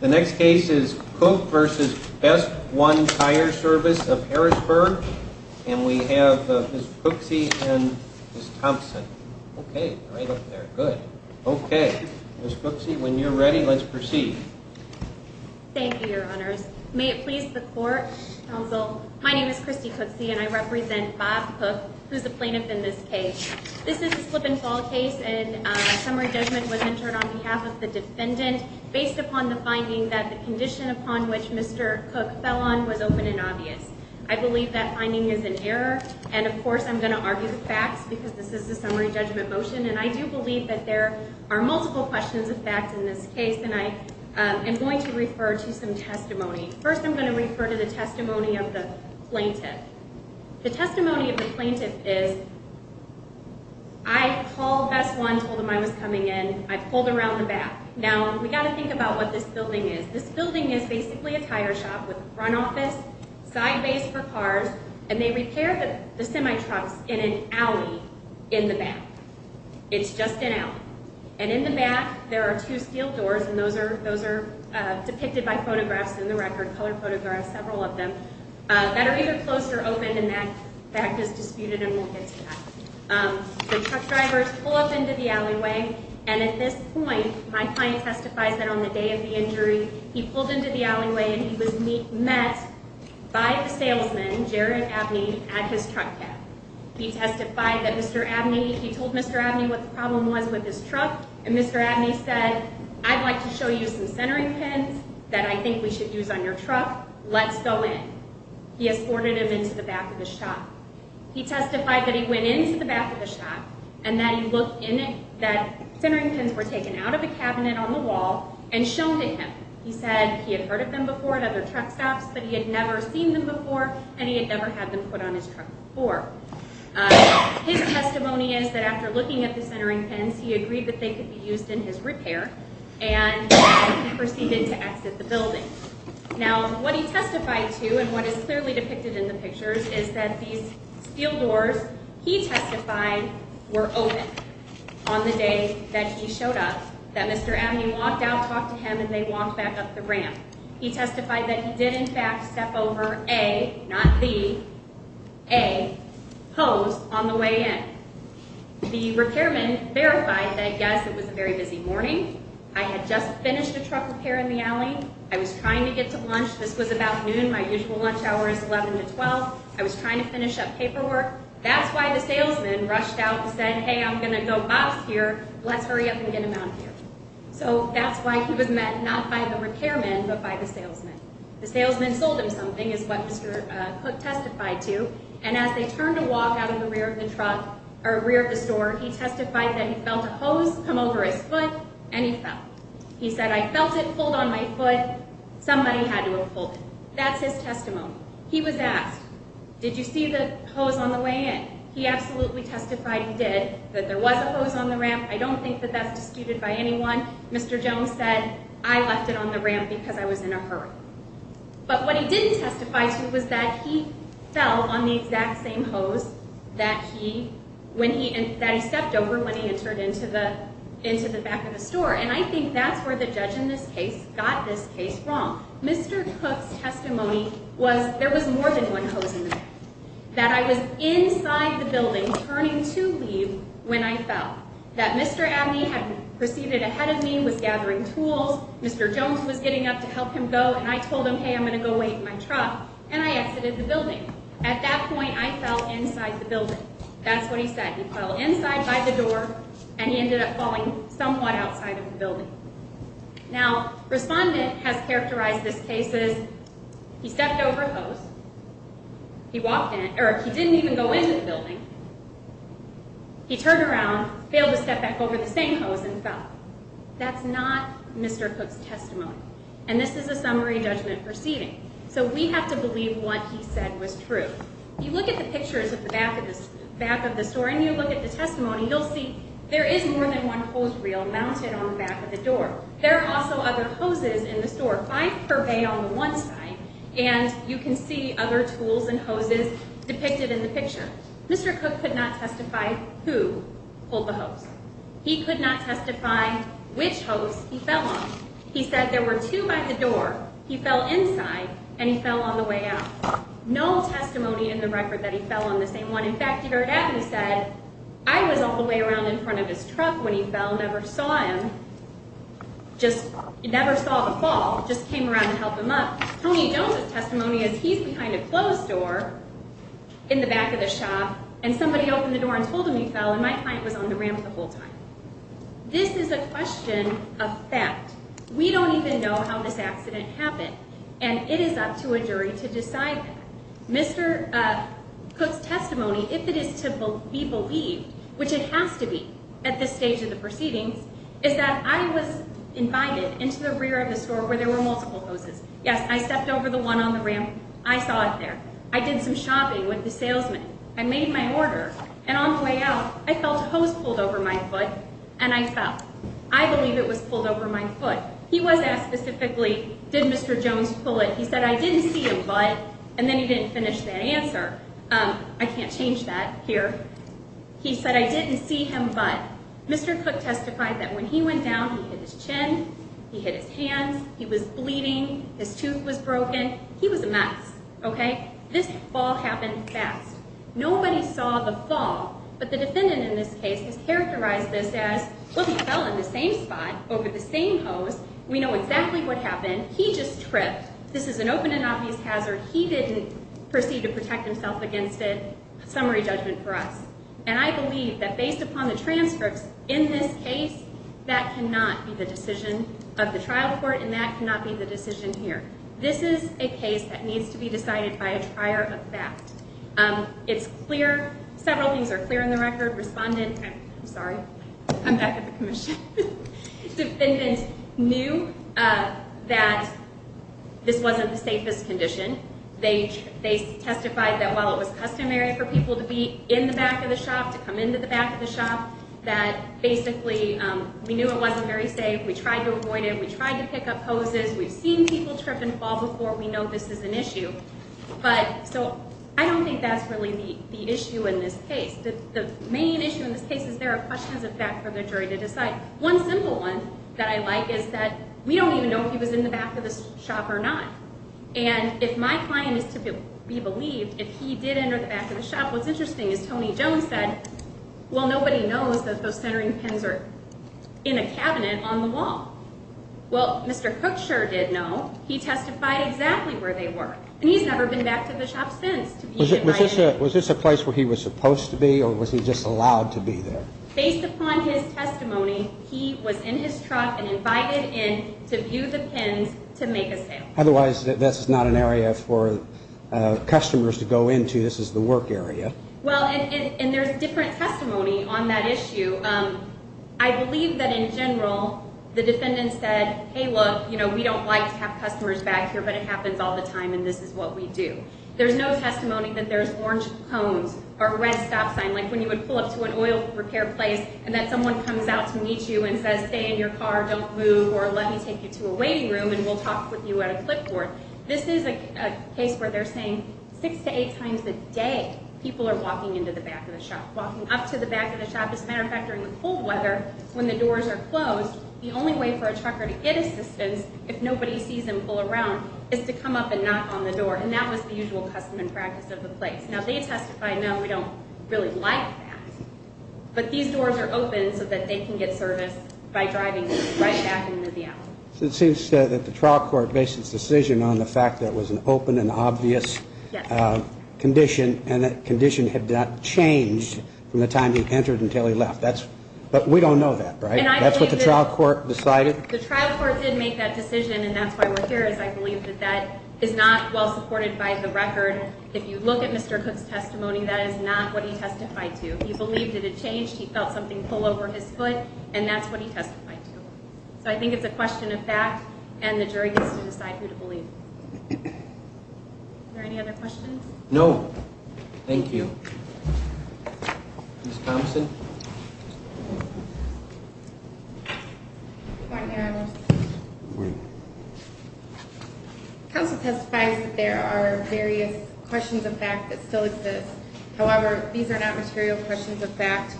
The next case is Cook v. Best One Tire & Service of Harrisburg and we have Ms. Cooksey and Ms. Thompson. Okay, right up there, good. Okay, Ms. Cooksey, when you're ready, let's proceed. Thank you, Your Honors. May it please the Court, Counsel, my name is Christy Cooksey and I represent Bob Cook, who's the plaintiff in this case. This is a slip and fall case and a summary judgment was entered on behalf of the defendant based upon the finding that the condition upon which Mr. Cook fell on was open and obvious. I believe that finding is an error and of course I'm going to argue the facts because this is a summary judgment motion and I do believe that there are multiple questions of fact in this case and I am going to refer to some testimony. First, I'm going to refer to the testimony of the plaintiff. The testimony of the plaintiff is I called Best One, told them I was coming in, I pulled around the back. Now, we've got to think about what this building is. This building is basically a tire shop with a front office, side base for cars, and they repair the semi-trucks in an alley in the back. It's just an alley. And in the back, there are two steel doors and those are depicted by photographs in the record, color photographs, several of them, that are either closed or opened and that fact is disputed and we'll get to that. The truck drivers pull up into the alleyway and at this point, my client testifies that on the day of the injury, he pulled into the alleyway and he was met by the salesman, Jared Abney, at his truck gap. He testified that Mr. Abney, he told Mr. Abney what the problem was with his truck and Mr. Abney said, I'd like to show you some centering pins that I think we should use on your truck. Let's go in. He escorted him into the back of the shop. He testified that he went into the back of the shop and that he looked in it, that centering pins were taken out of the cabinet on the wall and shown to him. He said he had heard of them before at other truck stops but he had never seen them before and he had never had them put on his truck before. His testimony is that after looking at the centering pins, he agreed that they could be used in his repair and he proceeded to exit the building. Now, what he testified to and what is clearly depicted in the pictures is that these steel doors, he testified, were open on the day that he showed up, that Mr. Abney walked out, talked to him and they walked back up the ramp. He testified that he did in fact step over a, not the, a hose on the way in. The repairman verified that, yes, it was a very busy morning. I had just finished a truck repair in the alley. I was trying to get to lunch. This was about noon. My usual lunch hour is 11 to 12. I was trying to finish up paperwork. That's why the salesman rushed out and said, hey, I'm going to go bust here. Let's hurry up and get him out here. So that's why he was met not by the repairman but by the salesman. The salesman sold him something, is what Mr. Cook testified to, and as they turned to walk out of the rear of the truck, or rear of the store, he testified that he felt a hose come over his foot and he fell. He said, I felt it pulled on my foot. Somebody had to have pulled it. That's his testimony. He was asked, did you see the hose on the way in? He absolutely testified he did, that there was a hose on the ramp. I don't think that that's disputed by anyone. Mr. Jones said, I left it on the ramp because I was in a hurry. But what he didn't testify to was that he fell on the exact same hose that he stepped over when he entered into the back of the store, and I think that's where the judge in this case got this case wrong. Mr. Cook's testimony was there was more than one hose in there, that I was inside the building turning to leave when I fell, that Mr. Abney had proceeded ahead of me, was gathering tools. Mr. Jones was getting up to help him go, and I told him, hey, I'm going to go wait in my truck, and I exited the building. At that point, I fell inside the building. That's what he said. He fell inside by the door, and he ended up falling somewhat outside of the building. Now, respondent has characterized this case as he stepped over a hose, he walked in, or he didn't even go into the building, he turned around, failed to step back over the same hose, and fell. That's not Mr. Cook's testimony, and this is a summary judgment proceeding, so we have to believe what he said was true. You look at the pictures of the back of the store, and you look at the testimony, you'll see there is more than one hose reel mounted on the back of the door. There are also other hoses in the store, five per bay on the one side, and you can see other tools and hoses depicted in the picture. Mr. Cook could not testify who pulled the hose. He could not testify which hose he fell on. In fact, he heard that and he said, I was all the way around in front of his truck when he fell, never saw him, just never saw the fall, just came around to help him up. Tony Jones' testimony is he's behind a closed door in the back of the shop, and somebody opened the door and told him he fell, and my client was on the ramp the whole time. This is a question of fact. We don't even know how this accident happened, and it is up to a jury to decide that. Mr. Cook's testimony, if it is to be believed, which it has to be at this stage of the proceedings, is that I was invited into the rear of the store where there were multiple hoses. Yes, I stepped over the one on the ramp. I saw it there. I did some shopping with the salesman. I made my order, and on the way out, I felt a hose pulled over my foot, and I fell. I believe it was pulled over my foot. He was asked specifically, did Mr. Jones pull it? He said, I didn't see him, but, and then he didn't finish that answer. I can't change that here. He said, I didn't see him, but. Mr. Cook testified that when he went down, he hit his chin, he hit his hands, he was bleeding, his tooth was broken. He was a mess, okay? This fall happened fast. Nobody saw the fall, but the defendant in this case has characterized this as, well, he fell in the same spot over the same hose. We know exactly what happened. He just tripped. This is an open and obvious hazard. He didn't proceed to protect himself against it. Summary judgment for us. And I believe that based upon the transcripts in this case, that cannot be the decision of the trial court, and that cannot be the decision here. This is a case that needs to be decided by a trier of fact. It's clear, several things are clear in the record. Respondent, I'm sorry, I'm back at the commission. Defendant knew that this wasn't the safest condition. They testified that while it was customary for people to be in the back of the shop, to come into the back of the shop, that basically we knew it wasn't very safe. We tried to avoid it. We tried to pick up hoses. We've seen people trip and fall before. We know this is an issue. But so I don't think that's really the issue in this case. The main issue in this case is there are questions of fact for the jury to decide. One simple one that I like is that we don't even know if he was in the back of the shop or not. And if my client is to be believed, if he did enter the back of the shop, what's interesting is Tony Jones said, well, nobody knows that those centering pins are in a cabinet on the wall. Well, Mr. Cook sure did know. He testified exactly where they were. And he's never been back to the shop since. Was this a place where he was supposed to be or was he just allowed to be there? Based upon his testimony, he was in his truck and invited in to view the pins to make a sale. Otherwise, this is not an area for customers to go into. This is the work area. Well, and there's different testimony on that issue. I believe that in general the defendant said, hey, look, you know, we don't like to have customers back here, but it happens all the time and this is what we do. There's no testimony that there's orange cones or a red stop sign, like when you would pull up to an oil repair place and then someone comes out to meet you and says, hey, I'm going to stay in your car, don't move, or let me take you to a waiting room and we'll talk with you at a clipboard. This is a case where they're saying six to eight times a day people are walking into the back of the shop, walking up to the back of the shop. As a matter of fact, during the cold weather, when the doors are closed, the only way for a trucker to get assistance, if nobody sees him pull around, is to come up and knock on the door. And that was the usual custom and practice of the place. Now, they testified, no, we don't really like that. But these doors are open so that they can get service by driving right back into the alley. It seems that the trial court based its decision on the fact that it was an open and obvious condition and that condition had not changed from the time he entered until he left. But we don't know that, right? That's what the trial court decided? The trial court did make that decision and that's why we're here is I believe that that is not well supported by the record. If you look at Mr. Cook's testimony, that is not what he testified to. He believed it had changed, he felt something pull over his foot, and that's what he testified to. So I think it's a question of fact and the jury gets to decide who to believe. Are there any other questions? No. Thank you. Ms. Thompson? Good morning, Your Honor. Good morning. Counsel testifies that there are various questions of fact that still exist. However, these are not material questions of fact.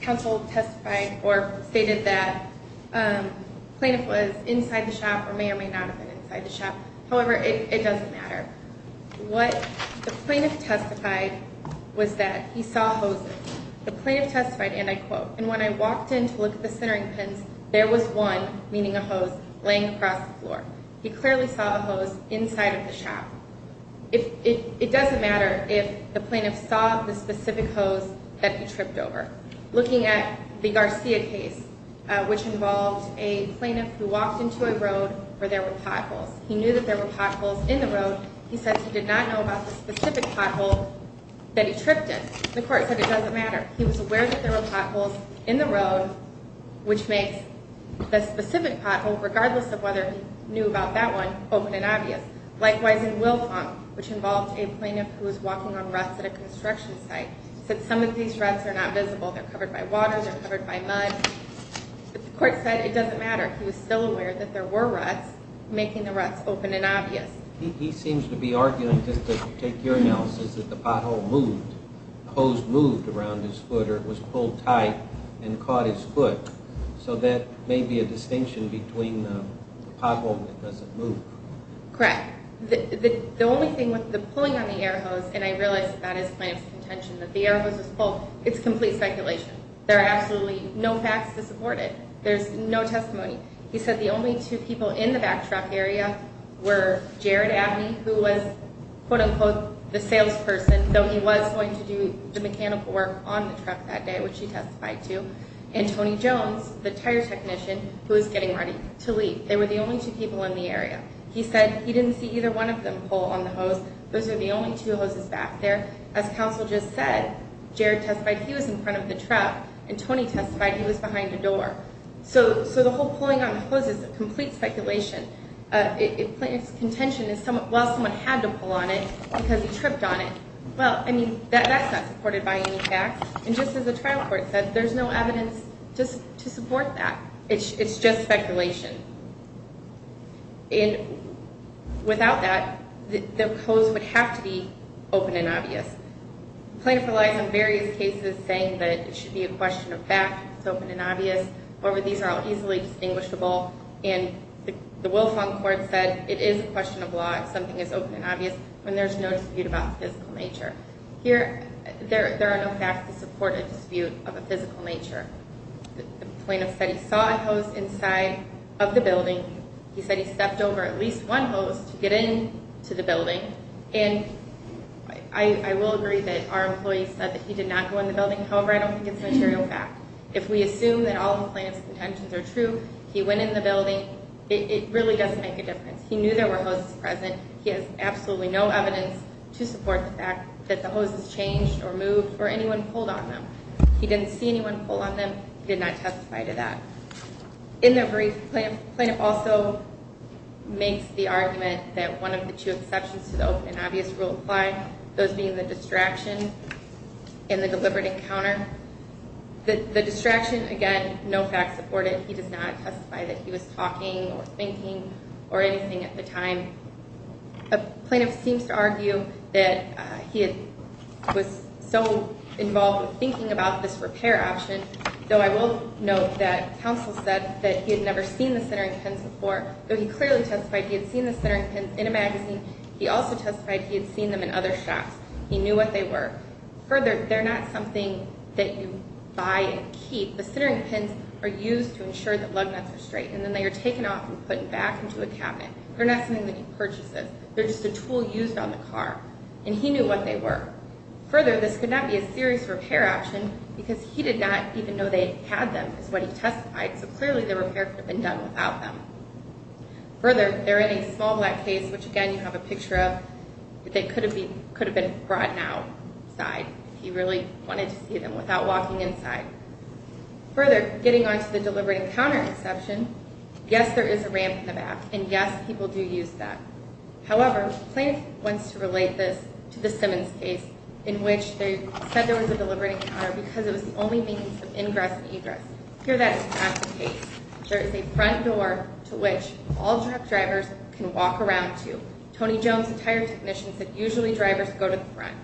Counsel testified or stated that the plaintiff was inside the shop or may or may not have been inside the shop. However, it doesn't matter. What the plaintiff testified was that he saw hoses. The plaintiff testified, and I quote, And when I walked in to look at the centering pins, there was one, meaning a hose, laying across the floor. He clearly saw a hose inside of the shop. It doesn't matter if the plaintiff saw the specific hose that he tripped over. Looking at the Garcia case, which involved a plaintiff who walked into a road where there were potholes, he knew that there were potholes in the road. He said he did not know about the specific pothole that he tripped in. The court said it doesn't matter. He was aware that there were potholes in the road, which makes the specific pothole, regardless of whether he knew about that one, open and obvious. Likewise, in Wilfong, which involved a plaintiff who was walking on ruts at a construction site, said some of these ruts are not visible. They're covered by water. They're covered by mud. But the court said it doesn't matter. He was still aware that there were ruts, making the ruts open and obvious. He seems to be arguing, just to take your analysis, that the pothole moved, the hose moved around his foot or it was pulled tight and caught his foot. So that may be a distinction between the pothole that doesn't move. Correct. The only thing with the pulling on the air hose, and I realize that that is the plaintiff's contention, that the air hose was pulled, it's complete speculation. There are absolutely no facts to support it. There's no testimony. He said the only two people in the back truck area were Jared Abney, who was, quote-unquote, the salesperson, though he was going to do the mechanical work on the truck that day, which he testified to, and Tony Jones, the tire technician, who was getting ready to leave. They were the only two people in the area. He said he didn't see either one of them pull on the hose. Those are the only two hoses back there. As counsel just said, Jared testified he was in front of the truck, and Tony testified he was behind a door. So the whole pulling on the hose is complete speculation. The plaintiff's contention is, well, someone had to pull on it because he tripped on it. Well, I mean, that's not supported by any facts. And just as the trial court said, there's no evidence to support that. It's just speculation. The plaintiff relies on various cases saying that it should be a question of fact, it's open and obvious. However, these are all easily distinguishable, and the Wilfong Court said it is a question of law if something is open and obvious when there's no dispute about physical nature. Here, there are no facts to support a dispute of a physical nature. The plaintiff said he saw a hose inside of the building. He said he stepped over at least one hose to get into the building. And I will agree that our employee said that he did not go in the building. However, I don't think it's material fact. If we assume that all the plaintiff's contentions are true, he went in the building, it really doesn't make a difference. He knew there were hoses present. He has absolutely no evidence to support the fact that the hoses changed or moved or anyone pulled on them. He didn't see anyone pull on them. He did not testify to that. In their brief, the plaintiff also makes the argument that one of the two exceptions to the open and obvious rule apply, those being the distraction and the deliberate encounter. The distraction, again, no facts support it. He does not testify that he was talking or thinking or anything at the time. The plaintiff seems to argue that he was so involved with thinking about this repair option, though I will note that counsel said that he had never seen the centering pins before, though he clearly testified he had seen the centering pins in a magazine. He also testified he had seen them in other shops. He knew what they were. Further, they're not something that you buy and keep. The centering pins are used to ensure that lug nuts are straight, and then they are taken off and put back into a cabinet. They're not something that you purchase. They're just a tool used on the car. And he knew what they were. Further, this could not be a serious repair option because he did not even know they had them, is what he testified, so clearly the repair could have been done without them. Further, they're in a small black case, which, again, you have a picture of. They could have been brought outside if he really wanted to see them without walking inside. Further, getting on to the deliberate encounter exception, yes, there is a ramp in the back, and yes, people do use that. However, plaintiff wants to relate this to the Simmons case in which they said there was a deliberate encounter because it was the only means of ingress and egress. Here, that is not the case. There is a front door to which all truck drivers can walk around to. Tony Jones, a tire technician, said usually drivers go to the front.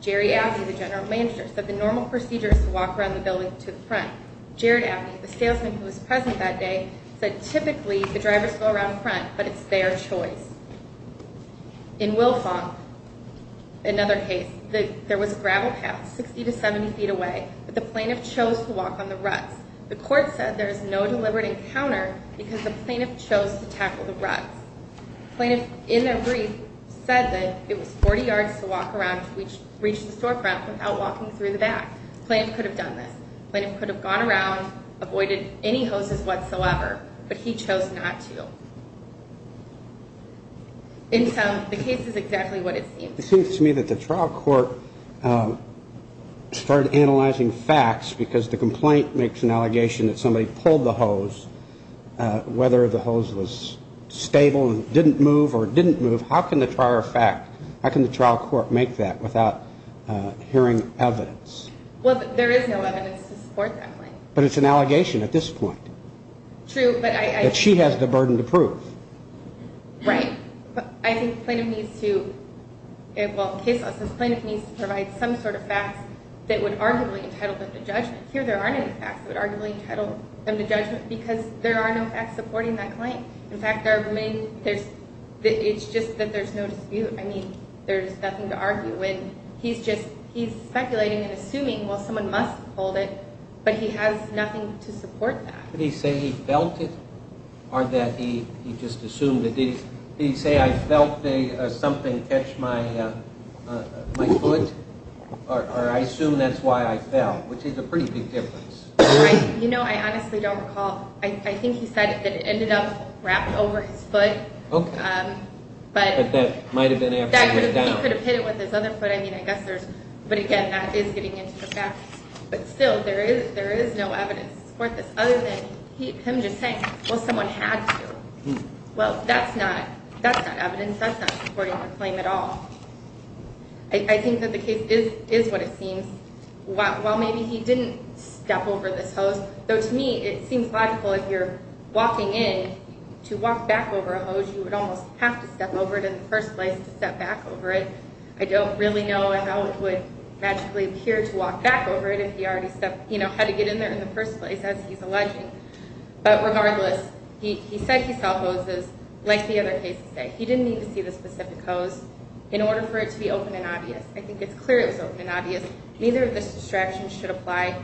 Jerry Abney, the general manager, said the normal procedure is to walk around the building to the front. Jared Abney, the salesman who was present that day, said typically the drivers go around front, but it's their choice. In Wilfong, another case, there was a gravel path 60 to 70 feet away, but the plaintiff chose to walk on the ruts. The court said there is no deliberate encounter because the plaintiff chose to tackle the ruts. Plaintiff, in their brief, said that it was 40 yards to walk around to reach the storefront without walking through the back. Plaintiff could have done this. Plaintiff could have gone around, avoided any hoses whatsoever, but he chose not to. In sum, the case is exactly what it seems. It seems to me that the trial court started analyzing facts because the complaint makes an allegation that somebody pulled the hose, whether the hose was stable and didn't move or didn't move. How can the trial court make that without hearing evidence? Well, there is no evidence to support that claim. But it's an allegation at this point. True, but I... That she has the burden to prove. Right. I think the plaintiff needs to, well, case law says the plaintiff needs to provide some sort of facts that would arguably entitle them to judgment. Here there aren't any facts that would arguably entitle them to judgment because there are no facts supporting that claim. In fact, there are many, there's, it's just that there's no dispute. I mean, there's nothing to argue with. He's just, he's speculating and assuming, well, someone must have pulled it, but he has nothing to support that. Did he say he felt it or that he just assumed it? Did he say, I felt something catch my foot, or I assume that's why I fell, which is a pretty big difference. You know, I honestly don't recall. I think he said that it ended up wrapped over his foot. Okay. But that might have been after he went down. He could have hit it with his other foot. I mean, I guess there's, but again, that is getting into the facts. But still, there is no evidence to support this other than him just saying, well, someone had to. Well, that's not evidence. That's not supporting the claim at all. I think that the case is what it seems. While maybe he didn't step over this hose, though to me it seems logical if you're walking in to walk back over a hose, you would almost have to step over it in the first place to step back over it. I don't really know how it would magically appear to walk back over it if he already stepped, you know, had to get in there in the first place, as he's alleging. But regardless, he said he saw hoses, like the other cases say. He didn't need to see the specific hose in order for it to be open and obvious. I think it's clear it was open and obvious. Neither of those distractions should apply.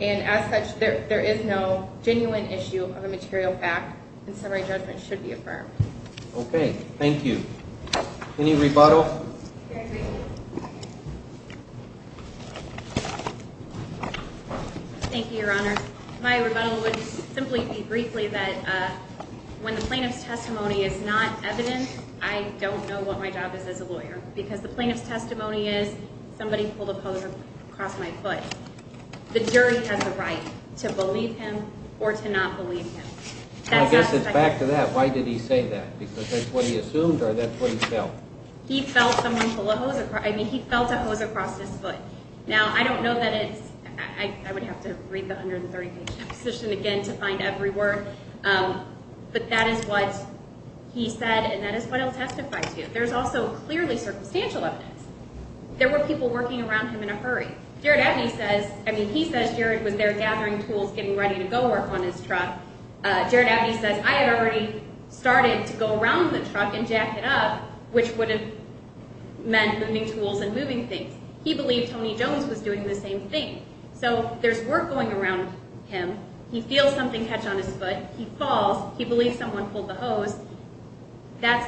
And as such, there is no genuine issue of a material fact, and summary judgment should be affirmed. Okay. Thank you. Any rebuttal? Thank you, Your Honor. My rebuttal would simply be briefly that when the plaintiff's testimony is not evident, I don't know what my job is as a lawyer because the plaintiff's testimony is somebody pulled a hose across my foot. The jury has a right to believe him or to not believe him. I guess it's back to that. Why did he say that? Because that's what he assumed or that's what he felt? He felt someone pull a hose across his foot. Now, I don't know that it's – I would have to read the 130-page deposition again to find every word, but that is what he said and that is what he'll testify to. There's also clearly circumstantial evidence. There were people working around him in a hurry. Jared Abney says – I mean, he says Jared was there gathering tools, getting ready to go work on his truck. Jared Abney says, I had already started to go around the truck and jack it up, which would have meant moving tools and moving things. He believed Tony Jones was doing the same thing. So there's work going around him. He feels something catch on his foot. He falls. He believes someone pulled the hose. And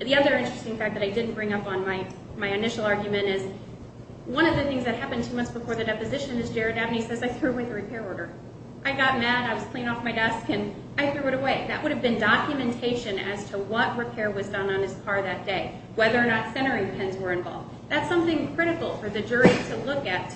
the other interesting fact that I didn't bring up on my initial argument is, one of the things that happened two months before the deposition is Jared Abney says, I threw away the repair order. I got mad. I was cleaning off my desk, and I threw it away. That would have been documentation as to what repair was done on his car that day, whether or not centering pins were involved. That's something critical for the jury to look at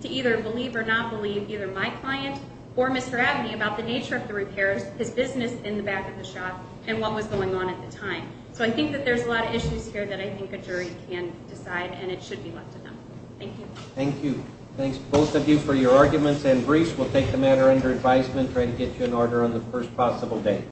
to either believe or not believe either my client or Mr. Abney about the nature of the repairs, his business in the back of the shop, and what was going on at the time. So I think that there's a lot of issues here that I think a jury can decide, and it should be left to them. Thank you. Thank you. Thanks, both of you, for your arguments and briefs. We'll take the matter under advisement and try to get you an order on the first possible day.